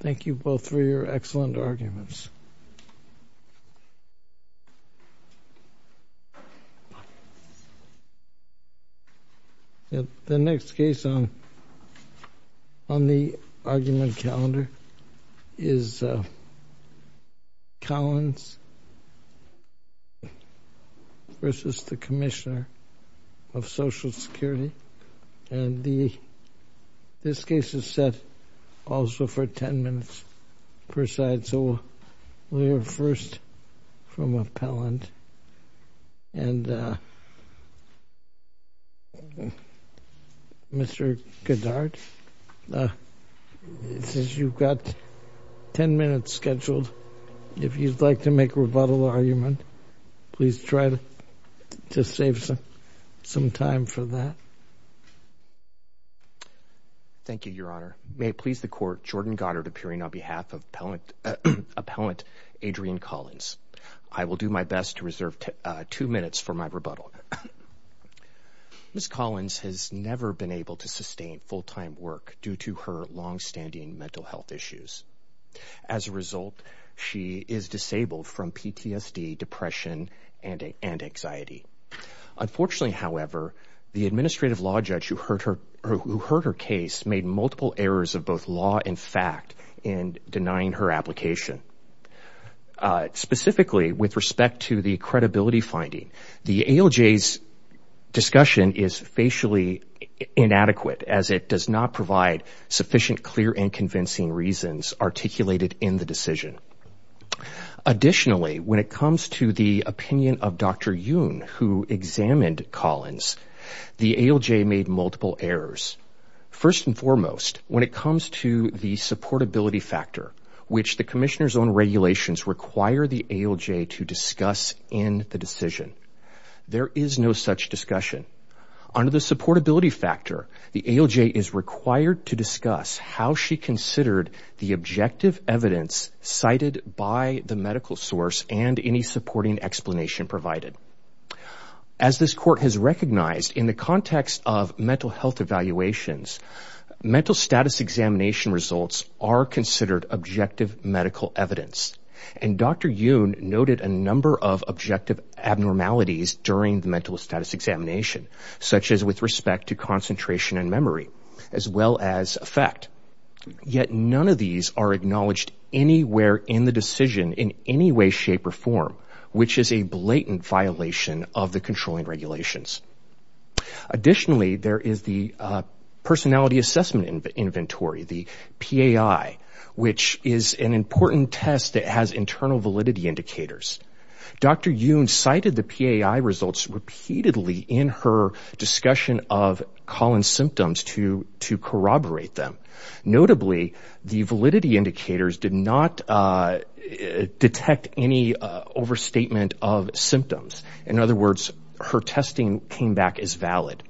Thank you both for your excellent arguments. The next case on the argument calendar is Collins v. the Commissioner of Social Security. And this case is set also for 10 minutes per side, so we'll hear first from Appellant. And Mr. Goddard, since you've got 10 minutes scheduled, if you'd like to make a rebuttal argument, please try to save some time for that. Thank you, Your Honor. May it please the Court, Jordan Goddard appearing on behalf of Appellant Adrienne Collins. I will do my best to reserve two minutes for my rebuttal. Ms. Collins has never been able to sustain full-time work due to her long-standing mental health issues. As a result, she is disabled from PTSD, depression, and anxiety. Unfortunately, however, the administrative law judge who heard her case made multiple errors of both law and fact in denying her application. Specifically, with respect to the credibility finding, the ALJ's discussion is facially inadequate, as it does not provide sufficient clear and convincing reasons articulated in the decision. Additionally, when it comes to the opinion of Dr. Yoon, who examined Collins, the ALJ made multiple errors. First and foremost, when it comes to the supportability factor, which the Commissioner's own regulations require the ALJ to discuss in the decision, there is no such discussion. Under the supportability factor, the ALJ is required to discuss how she considered the objective evidence cited by the medical source and any supporting explanation provided. As this Court has recognized, in the context of mental health evaluations, mental status examination results are considered objective medical evidence. And Dr. Yoon noted a number of objective abnormalities during the mental status examination, such as with respect to concentration and memory, as well as effect. Yet none of these are acknowledged anywhere in the decision in any way, shape, or form, which is a blatant violation of the controlling regulations. Additionally, there is the personality assessment inventory, the PAI, which is an important test that has internal validity indicators. Dr. Yoon cited the PAI results repeatedly in her discussion of Collins' symptoms to corroborate them. Notably, the validity indicators did not detect any overstatement of symptoms. In other words, her testing came back as valid.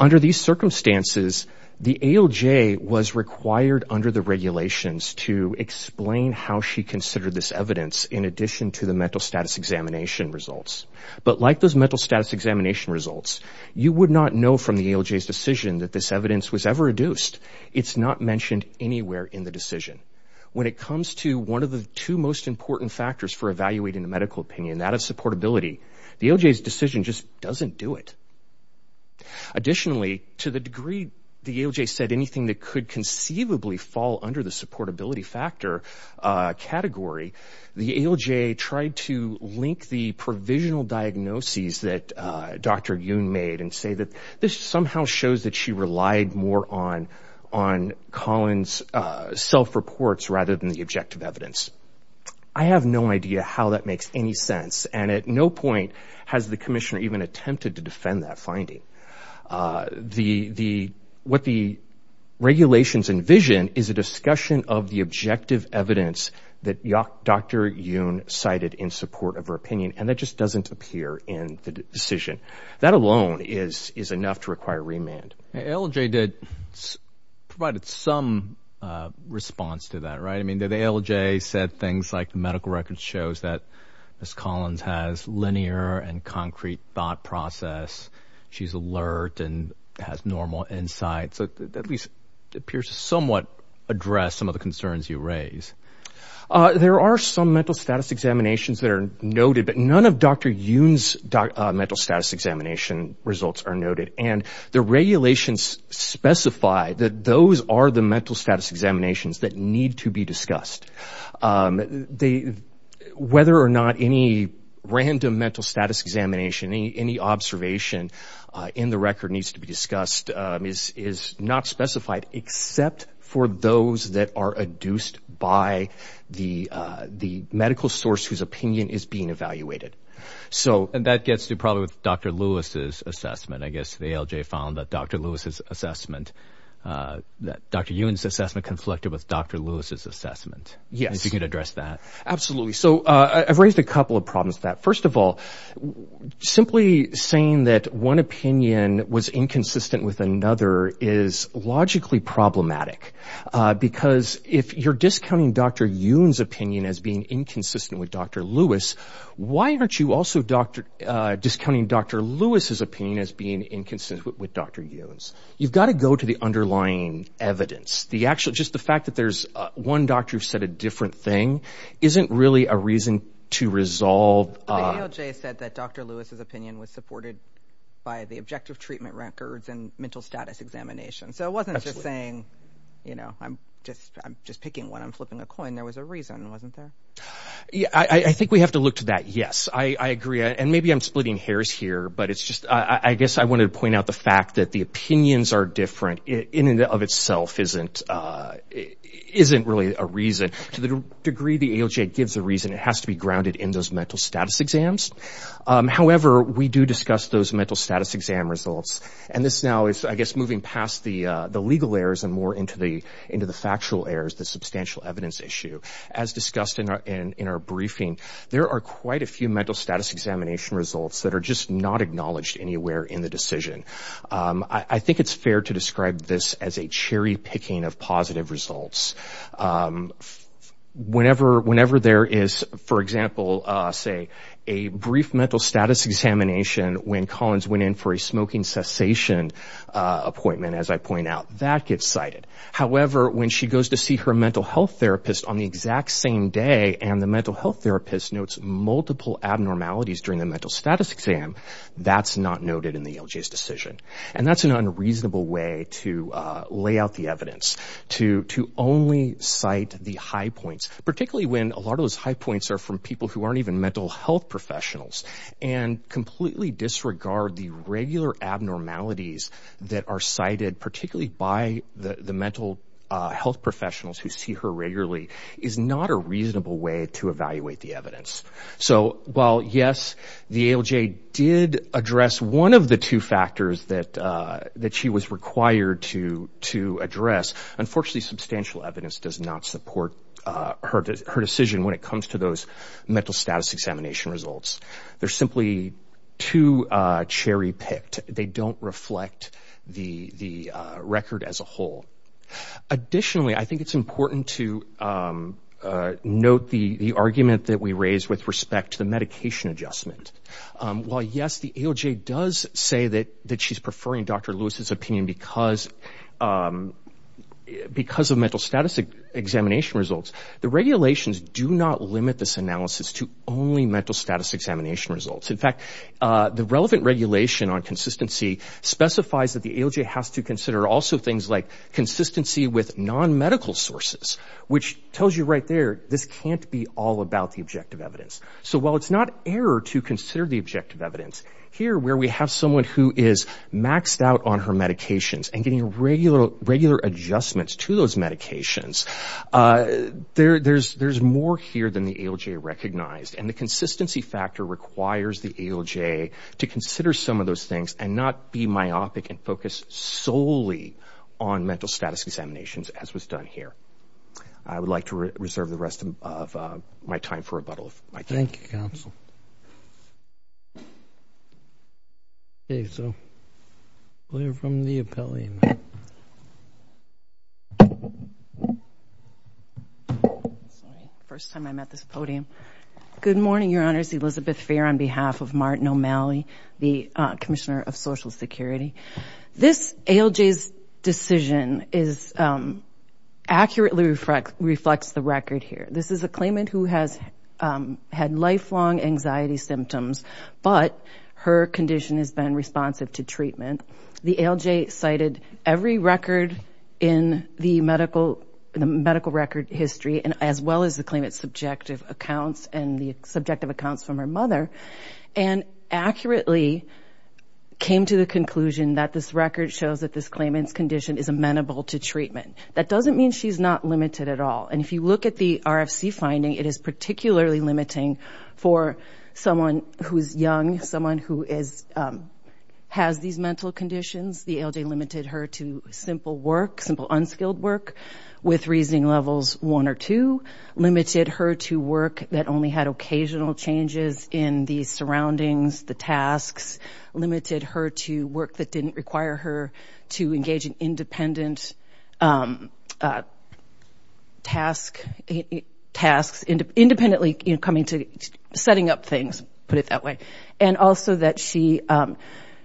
Under these circumstances, the ALJ was required under the regulations to explain how she considered this evidence in addition to the mental status examination results. But like those mental status examination results, you would not know from the ALJ's decision that this evidence was ever adduced. It's not mentioned anywhere in the decision. When it comes to one of the two most important factors for evaluating the medical opinion, that of supportability, the ALJ's decision just doesn't do it. Additionally, to the degree the ALJ said anything that could conceivably fall under the supportability factor category, the ALJ tried to link the provisional diagnoses that Dr. Yoon made and say that this somehow shows that she relied more on Collins' self-reports rather than the objective evidence. I have no idea how that makes any sense, and at no point has the commissioner even attempted to defend that finding. What the regulations envision is a discussion of the objective evidence that Dr. Yoon cited in support of her opinion, and that just doesn't appear in the decision. That alone is enough to require remand. ALJ provided some response to that, right? I mean, the ALJ said things like the medical records shows that Ms. Collins has linear and concrete thought process. She's alert and has normal insights. That at least appears to somewhat address some of the concerns you raise. There are some mental status examinations that are noted, but none of Dr. Yoon's mental status examination results are noted. And the regulations specify that those are the mental status examinations that need to be discussed. Whether or not any random mental status examination, any observation in the record needs to be discussed is not specified, except for those that are adduced by the medical source whose opinion is being evaluated. And that gets to probably with Dr. Lewis's assessment. I guess the ALJ found that Dr. Yoon's assessment conflicted with Dr. Lewis's assessment. Yes. If you could address that. Absolutely. So I've raised a couple of problems with that. First of all, simply saying that one opinion was inconsistent with another is logically problematic, because if you're discounting Dr. Yoon's opinion as being inconsistent with Dr. Lewis, why aren't you also discounting Dr. Lewis's opinion as being inconsistent with Dr. Yoon's? You've got to go to the underlying evidence. Just the fact that there's one doctor who said a different thing isn't really a reason to resolve. The ALJ said that Dr. Lewis's opinion was supported by the objective treatment records and mental status examination. So it wasn't just saying, you know, I'm just picking one, I'm flipping a coin. There was a reason, wasn't there? I think we have to look to that, yes. I agree. And maybe I'm splitting hairs here, but I guess I wanted to point out the fact that the opinions are different in and of itself isn't really a reason. To the degree the ALJ gives a reason, it has to be grounded in those mental status exams. However, we do discuss those mental status exam results. And this now is, I guess, moving past the legal errors and more into the factual errors, the substantial evidence issue. As discussed in our briefing, there are quite a few mental status examination results that are just not acknowledged anywhere in the decision. I think it's fair to describe this as a cherry-picking of positive results. Whenever there is, for example, say, a brief mental status examination when Collins went in for a smoking cessation appointment, as I point out, that gets cited. However, when she goes to see her mental health therapist on the exact same day and the mental health therapist notes multiple abnormalities during the mental status exam, that's not noted in the ALJ's decision. And that's an unreasonable way to lay out the evidence, to only cite the high points, particularly when a lot of those high points are from people who aren't even mental health professionals and completely disregard the regular abnormalities that are cited, particularly by the mental health professionals who see her regularly, is not a reasonable way to evaluate the evidence. So while, yes, the ALJ did address one of the two factors that she was required to address, unfortunately, substantial evidence does not support her decision when it comes to those mental status examination results. They're simply too cherry-picked. They don't reflect the record as a whole. Additionally, I think it's important to note the argument that we raised with respect to the medication adjustment. While, yes, the ALJ does say that she's preferring Dr. Lewis's opinion because of mental status examination results, the regulations do not limit this analysis to only mental status examination results. In fact, the relevant regulation on consistency specifies that the ALJ has to consider also things like consistency with non-medical sources, which tells you right there this can't be all about the objective evidence. So while it's not error to consider the objective evidence, here where we have someone who is maxed out on her medications and getting regular adjustments to those medications, there's more here than the ALJ recognized. And the consistency factor requires the ALJ to consider some of those things and not be myopic and focus solely on mental status examinations, as was done here. I would like to reserve the rest of my time for rebuttal. Thank you, Counsel. Okay, so we'll hear from the appellee. First time I'm at this podium. Good morning, Your Honors. Elizabeth Fair on behalf of Martin O'Malley, the Commissioner of Social Security. This ALJ's decision accurately reflects the record here. This is a claimant who has had lifelong anxiety symptoms, but her condition has been responsive to treatment. The ALJ cited every record in the medical record history, as well as the claimant's subjective accounts and the subjective accounts from her mother, and accurately came to the conclusion that this record shows that this claimant's condition is amenable to treatment. That doesn't mean she's not limited at all. And if you look at the RFC finding, it is particularly limiting for someone who is young, someone who has these mental conditions. The ALJ limited her to simple work, simple unskilled work, with reasoning levels 1 or 2, limited her to work that only had occasional changes in the surroundings, the tasks, limited her to work that didn't require her to engage in independent tasks, independently coming to, setting up things, put it that way, and also that she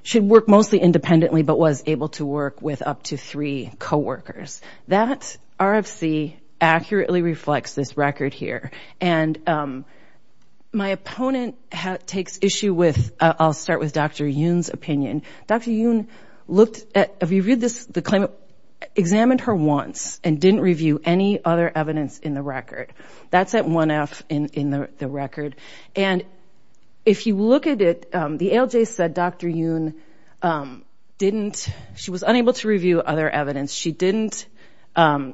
should work mostly independently, but was able to work with up to three coworkers. That RFC accurately reflects this record here. And my opponent takes issue with, I'll start with Dr. Yoon's opinion. Dr. Yoon looked at, if you read this, the claimant examined her once and didn't review any other evidence in the record. That's at 1F in the record. And if you look at it, the ALJ said Dr. Yoon didn't, she was unable to review other evidence. She didn't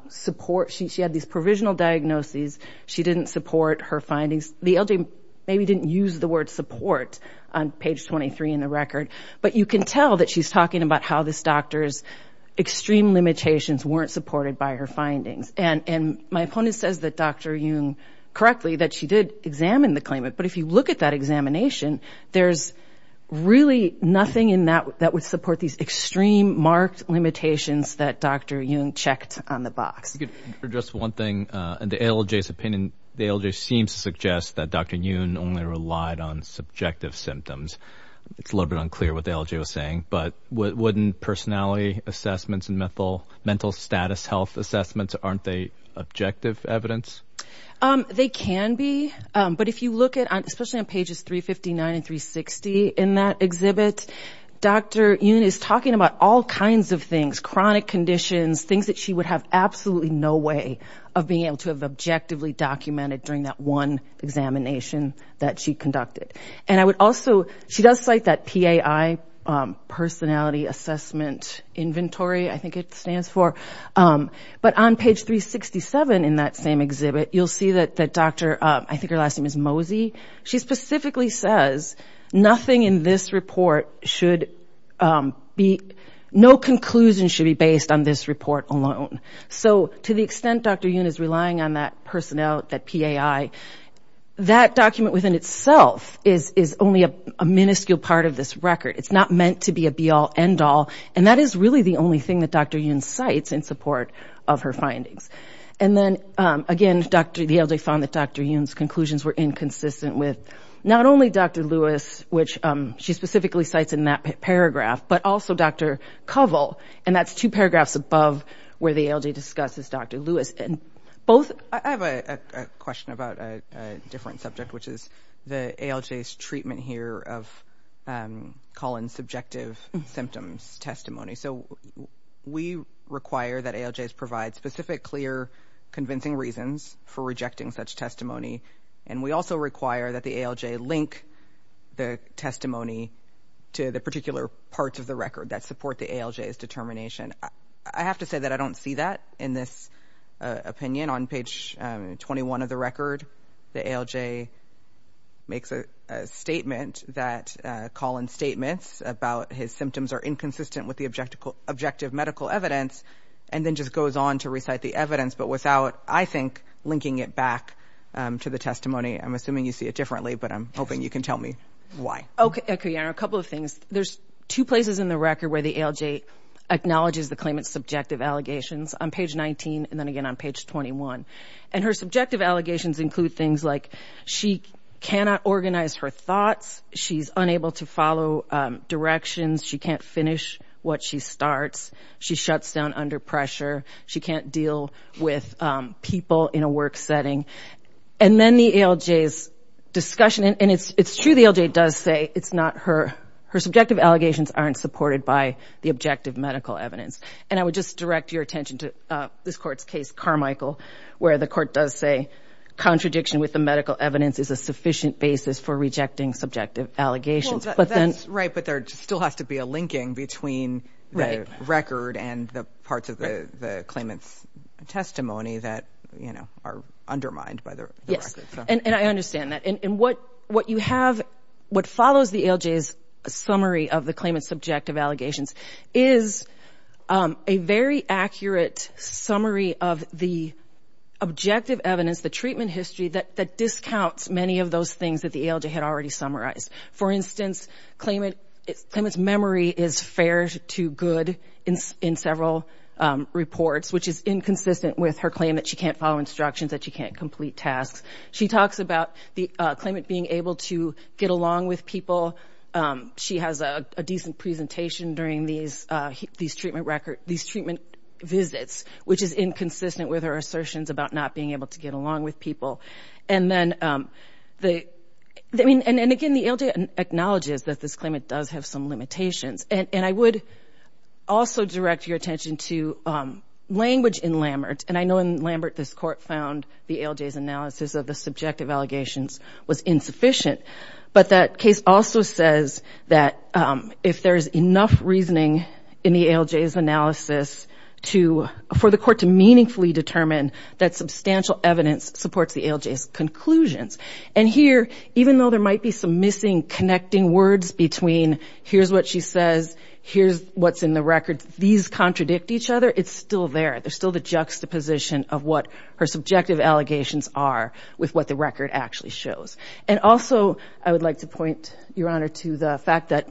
support, she had these provisional diagnoses. She didn't support her findings. The ALJ maybe didn't use the word support on page 23 in the record. But you can tell that she's talking about how this doctor's extreme limitations weren't supported by her findings. And my opponent says that Dr. Yoon correctly, that she did examine the claimant. But if you look at that examination, there's really nothing in that that would support these extreme marked limitations that Dr. Yoon checked on the box. For just one thing, the ALJ's opinion, the ALJ seems to suggest that Dr. Yoon only relied on subjective symptoms. It's a little bit unclear what the ALJ was saying. But wouldn't personality assessments and mental status health assessments, aren't they objective evidence? They can be. But if you look at, especially on pages 359 and 360 in that exhibit, Dr. Yoon is talking about all kinds of things, chronic conditions, things that she would have absolutely no way of being able to have objectively documented during that one examination that she conducted. And I would also, she does cite that PAI, personality assessment inventory, I think it stands for. But on page 367 in that same exhibit, you'll see that Dr., I think her last name is Mosey, she specifically says nothing in this report should be, no conclusion should be based on this report alone. So to the extent Dr. Yoon is relying on that personnel, that PAI, that document within itself is only a minuscule part of this record. It's not meant to be a be-all, end-all. And that is really the only thing that Dr. Yoon cites in support of her findings. And then, again, the ALJ found that Dr. Yoon's conclusions were inconsistent with not only Dr. Lewis, which she specifically cites in that paragraph, but also Dr. Covel, and that's two paragraphs above where the ALJ discusses Dr. Lewis. And both- I have a question about a different subject, which is the ALJ's treatment here of Colin's subjective symptoms testimony. So we require that ALJs provide specific, clear, convincing reasons for rejecting such testimony, and we also require that the ALJ link the testimony to the particular parts of the record that support the ALJ's determination. I have to say that I don't see that in this opinion. Again, on page 21 of the record, the ALJ makes a statement that Colin's statements about his symptoms are inconsistent with the objective medical evidence, and then just goes on to recite the evidence, but without, I think, linking it back to the testimony. I'm assuming you see it differently, but I'm hoping you can tell me why. Okay, a couple of things. There's two places in the record where the ALJ acknowledges the claimant's subjective allegations, on page 19 and then again on page 21. And her subjective allegations include things like she cannot organize her thoughts, she's unable to follow directions, she can't finish what she starts, she shuts down under pressure, she can't deal with people in a work setting. And then the ALJ's discussion, and it's true the ALJ does say it's not her, her subjective allegations aren't supported by the objective medical evidence. And I would just direct your attention to this court's case, Carmichael, where the court does say contradiction with the medical evidence is a sufficient basis for rejecting subjective allegations. Well, that's right, but there still has to be a linking between the record and the parts of the claimant's testimony that, you know, are undermined by the record. Yes, and I understand that. And what you have, what follows the ALJ's summary of the claimant's subjective allegations is a very accurate summary of the objective evidence, the treatment history, that discounts many of those things that the ALJ had already summarized. For instance, claimant's memory is fair to good in several reports, which is inconsistent with her claim that she can't follow instructions, that she can't complete tasks. She talks about the claimant being able to get along with people. She has a decent presentation during these treatment visits, which is inconsistent with her assertions about not being able to get along with people. And again, the ALJ acknowledges that this claimant does have some limitations. And I would also direct your attention to language in Lambert. And I know in Lambert this court found the ALJ's analysis of the subjective allegations was insufficient. But that case also says that if there is enough reasoning in the ALJ's analysis to, for the court to meaningfully determine that substantial evidence supports the ALJ's conclusions. And here, even though there might be some missing connecting words between here's what she says, here's what's in the record, these contradict each other, it's still there. There's still the juxtaposition of what her subjective allegations are with what the record actually shows. And also, I would like to point, Your Honor, to the fact that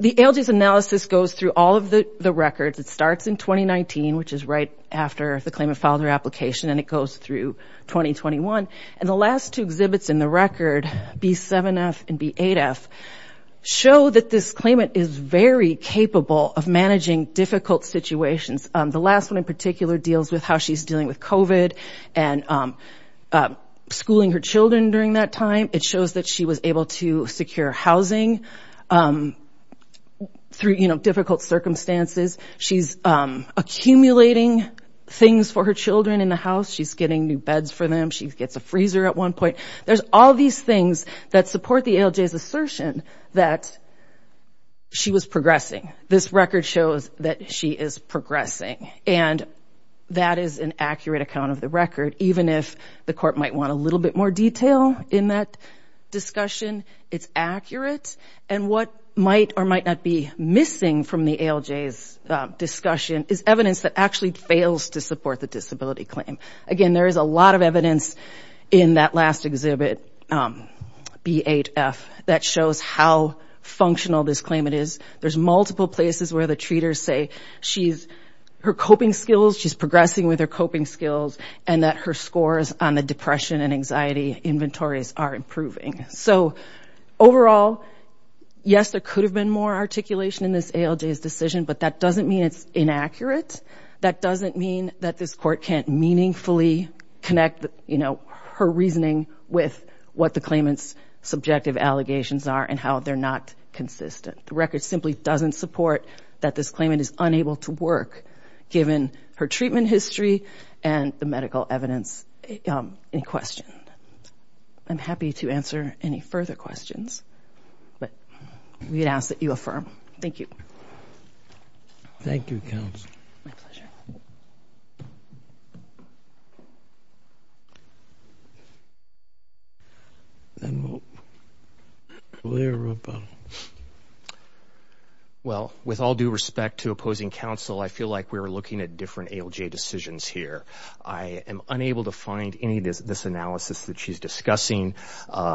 the ALJ's analysis goes through all of the records. It starts in 2019, which is right after the claimant filed her application, and it goes through 2021. And the last two exhibits in the record, B7F and B8F, show that this claimant is very capable of managing difficult situations. The last one in particular deals with how she's dealing with COVID and schooling her children during that time. It shows that she was able to secure housing through, you know, difficult circumstances. She's accumulating things for her children in the house. She's getting new beds for them. She gets a freezer at one point. There's all these things that support the ALJ's assertion that she was progressing. This record shows that she is progressing, and that is an accurate account of the record. Even if the court might want a little bit more detail in that discussion, it's accurate. And what might or might not be missing from the ALJ's discussion is evidence that actually fails to support the disability claim. Again, there is a lot of evidence in that last exhibit, B8F, that shows how functional this claimant is. There's multiple places where the treaters say her coping skills, she's progressing with her coping skills, and that her scores on the depression and anxiety inventories are improving. So overall, yes, there could have been more articulation in this ALJ's decision, but that doesn't mean it's inaccurate. That doesn't mean that this court can't meaningfully connect, you know, her reasoning with what the claimant's subjective allegations are and how they're not consistent. The record simply doesn't support that this claimant is unable to work, given her treatment history and the medical evidence in question. I'm happy to answer any further questions, but we ask that you affirm. Thank you. Thank you, counsel. Well, with all due respect to opposing counsel, I feel like we were looking at different ALJ decisions here. I am unable to find any of this analysis that she's discussing.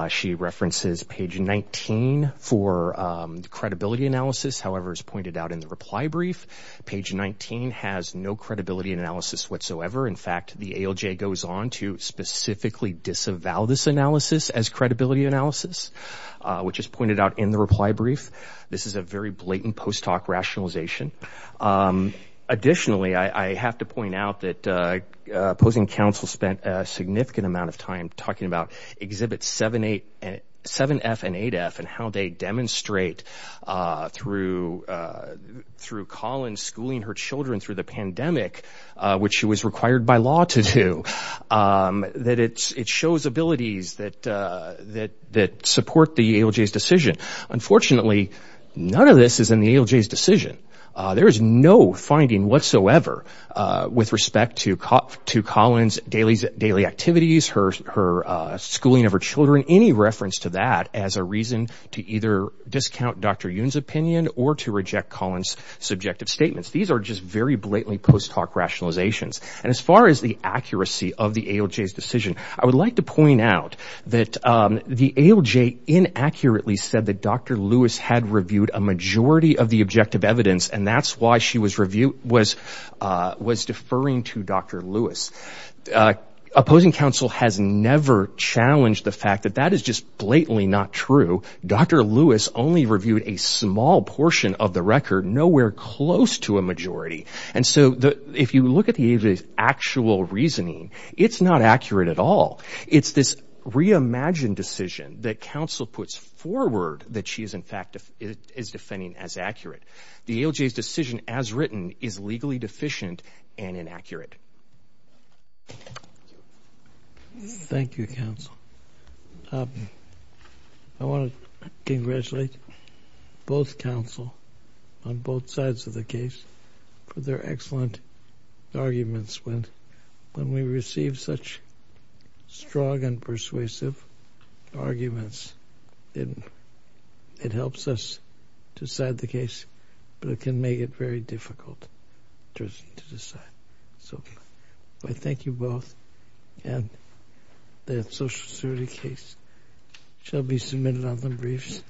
She references page 19 for the credibility analysis. However, as pointed out in the reply brief, page 19 has no credibility analysis whatsoever. In fact, the ALJ goes on to specifically disavow this analysis as credibility analysis, which is pointed out in the reply brief. This is a very blatant post-talk rationalization. Additionally, I have to point out that opposing counsel spent a significant amount of time talking about Exhibit 7F and 8F and how they demonstrate through Collins schooling her children through the pandemic, which she was required by law to do, that it shows abilities that support the ALJ's decision. Unfortunately, none of this is in the ALJ's decision. There is no finding whatsoever with respect to Collins' daily activities, her schooling of her children, any reference to that as a reason to either discount Dr. Yoon's opinion or to reject Collins' subjective statements. These are just very blatantly post-talk rationalizations. And as far as the accuracy of the ALJ's decision, I would like to point out that the ALJ inaccurately said that Dr. Lewis had reviewed a majority of the objective evidence, and that's why she was deferring to Dr. Lewis. Opposing counsel has never challenged the fact that that is just blatantly not true. Dr. Lewis only reviewed a small portion of the record, nowhere close to a majority. And so if you look at the ALJ's actual reasoning, it's not accurate at all. It's this reimagined decision that counsel puts forward that she is, in fact, is defending as accurate. The ALJ's decision as written is legally deficient and inaccurate. Thank you, counsel. I want to congratulate both counsel on both sides of the case for their excellent arguments. When we receive such strong and persuasive arguments, it helps us decide the case, but it can make it very difficult to decide. So I thank you both, and the social security case shall be submitted on the briefs.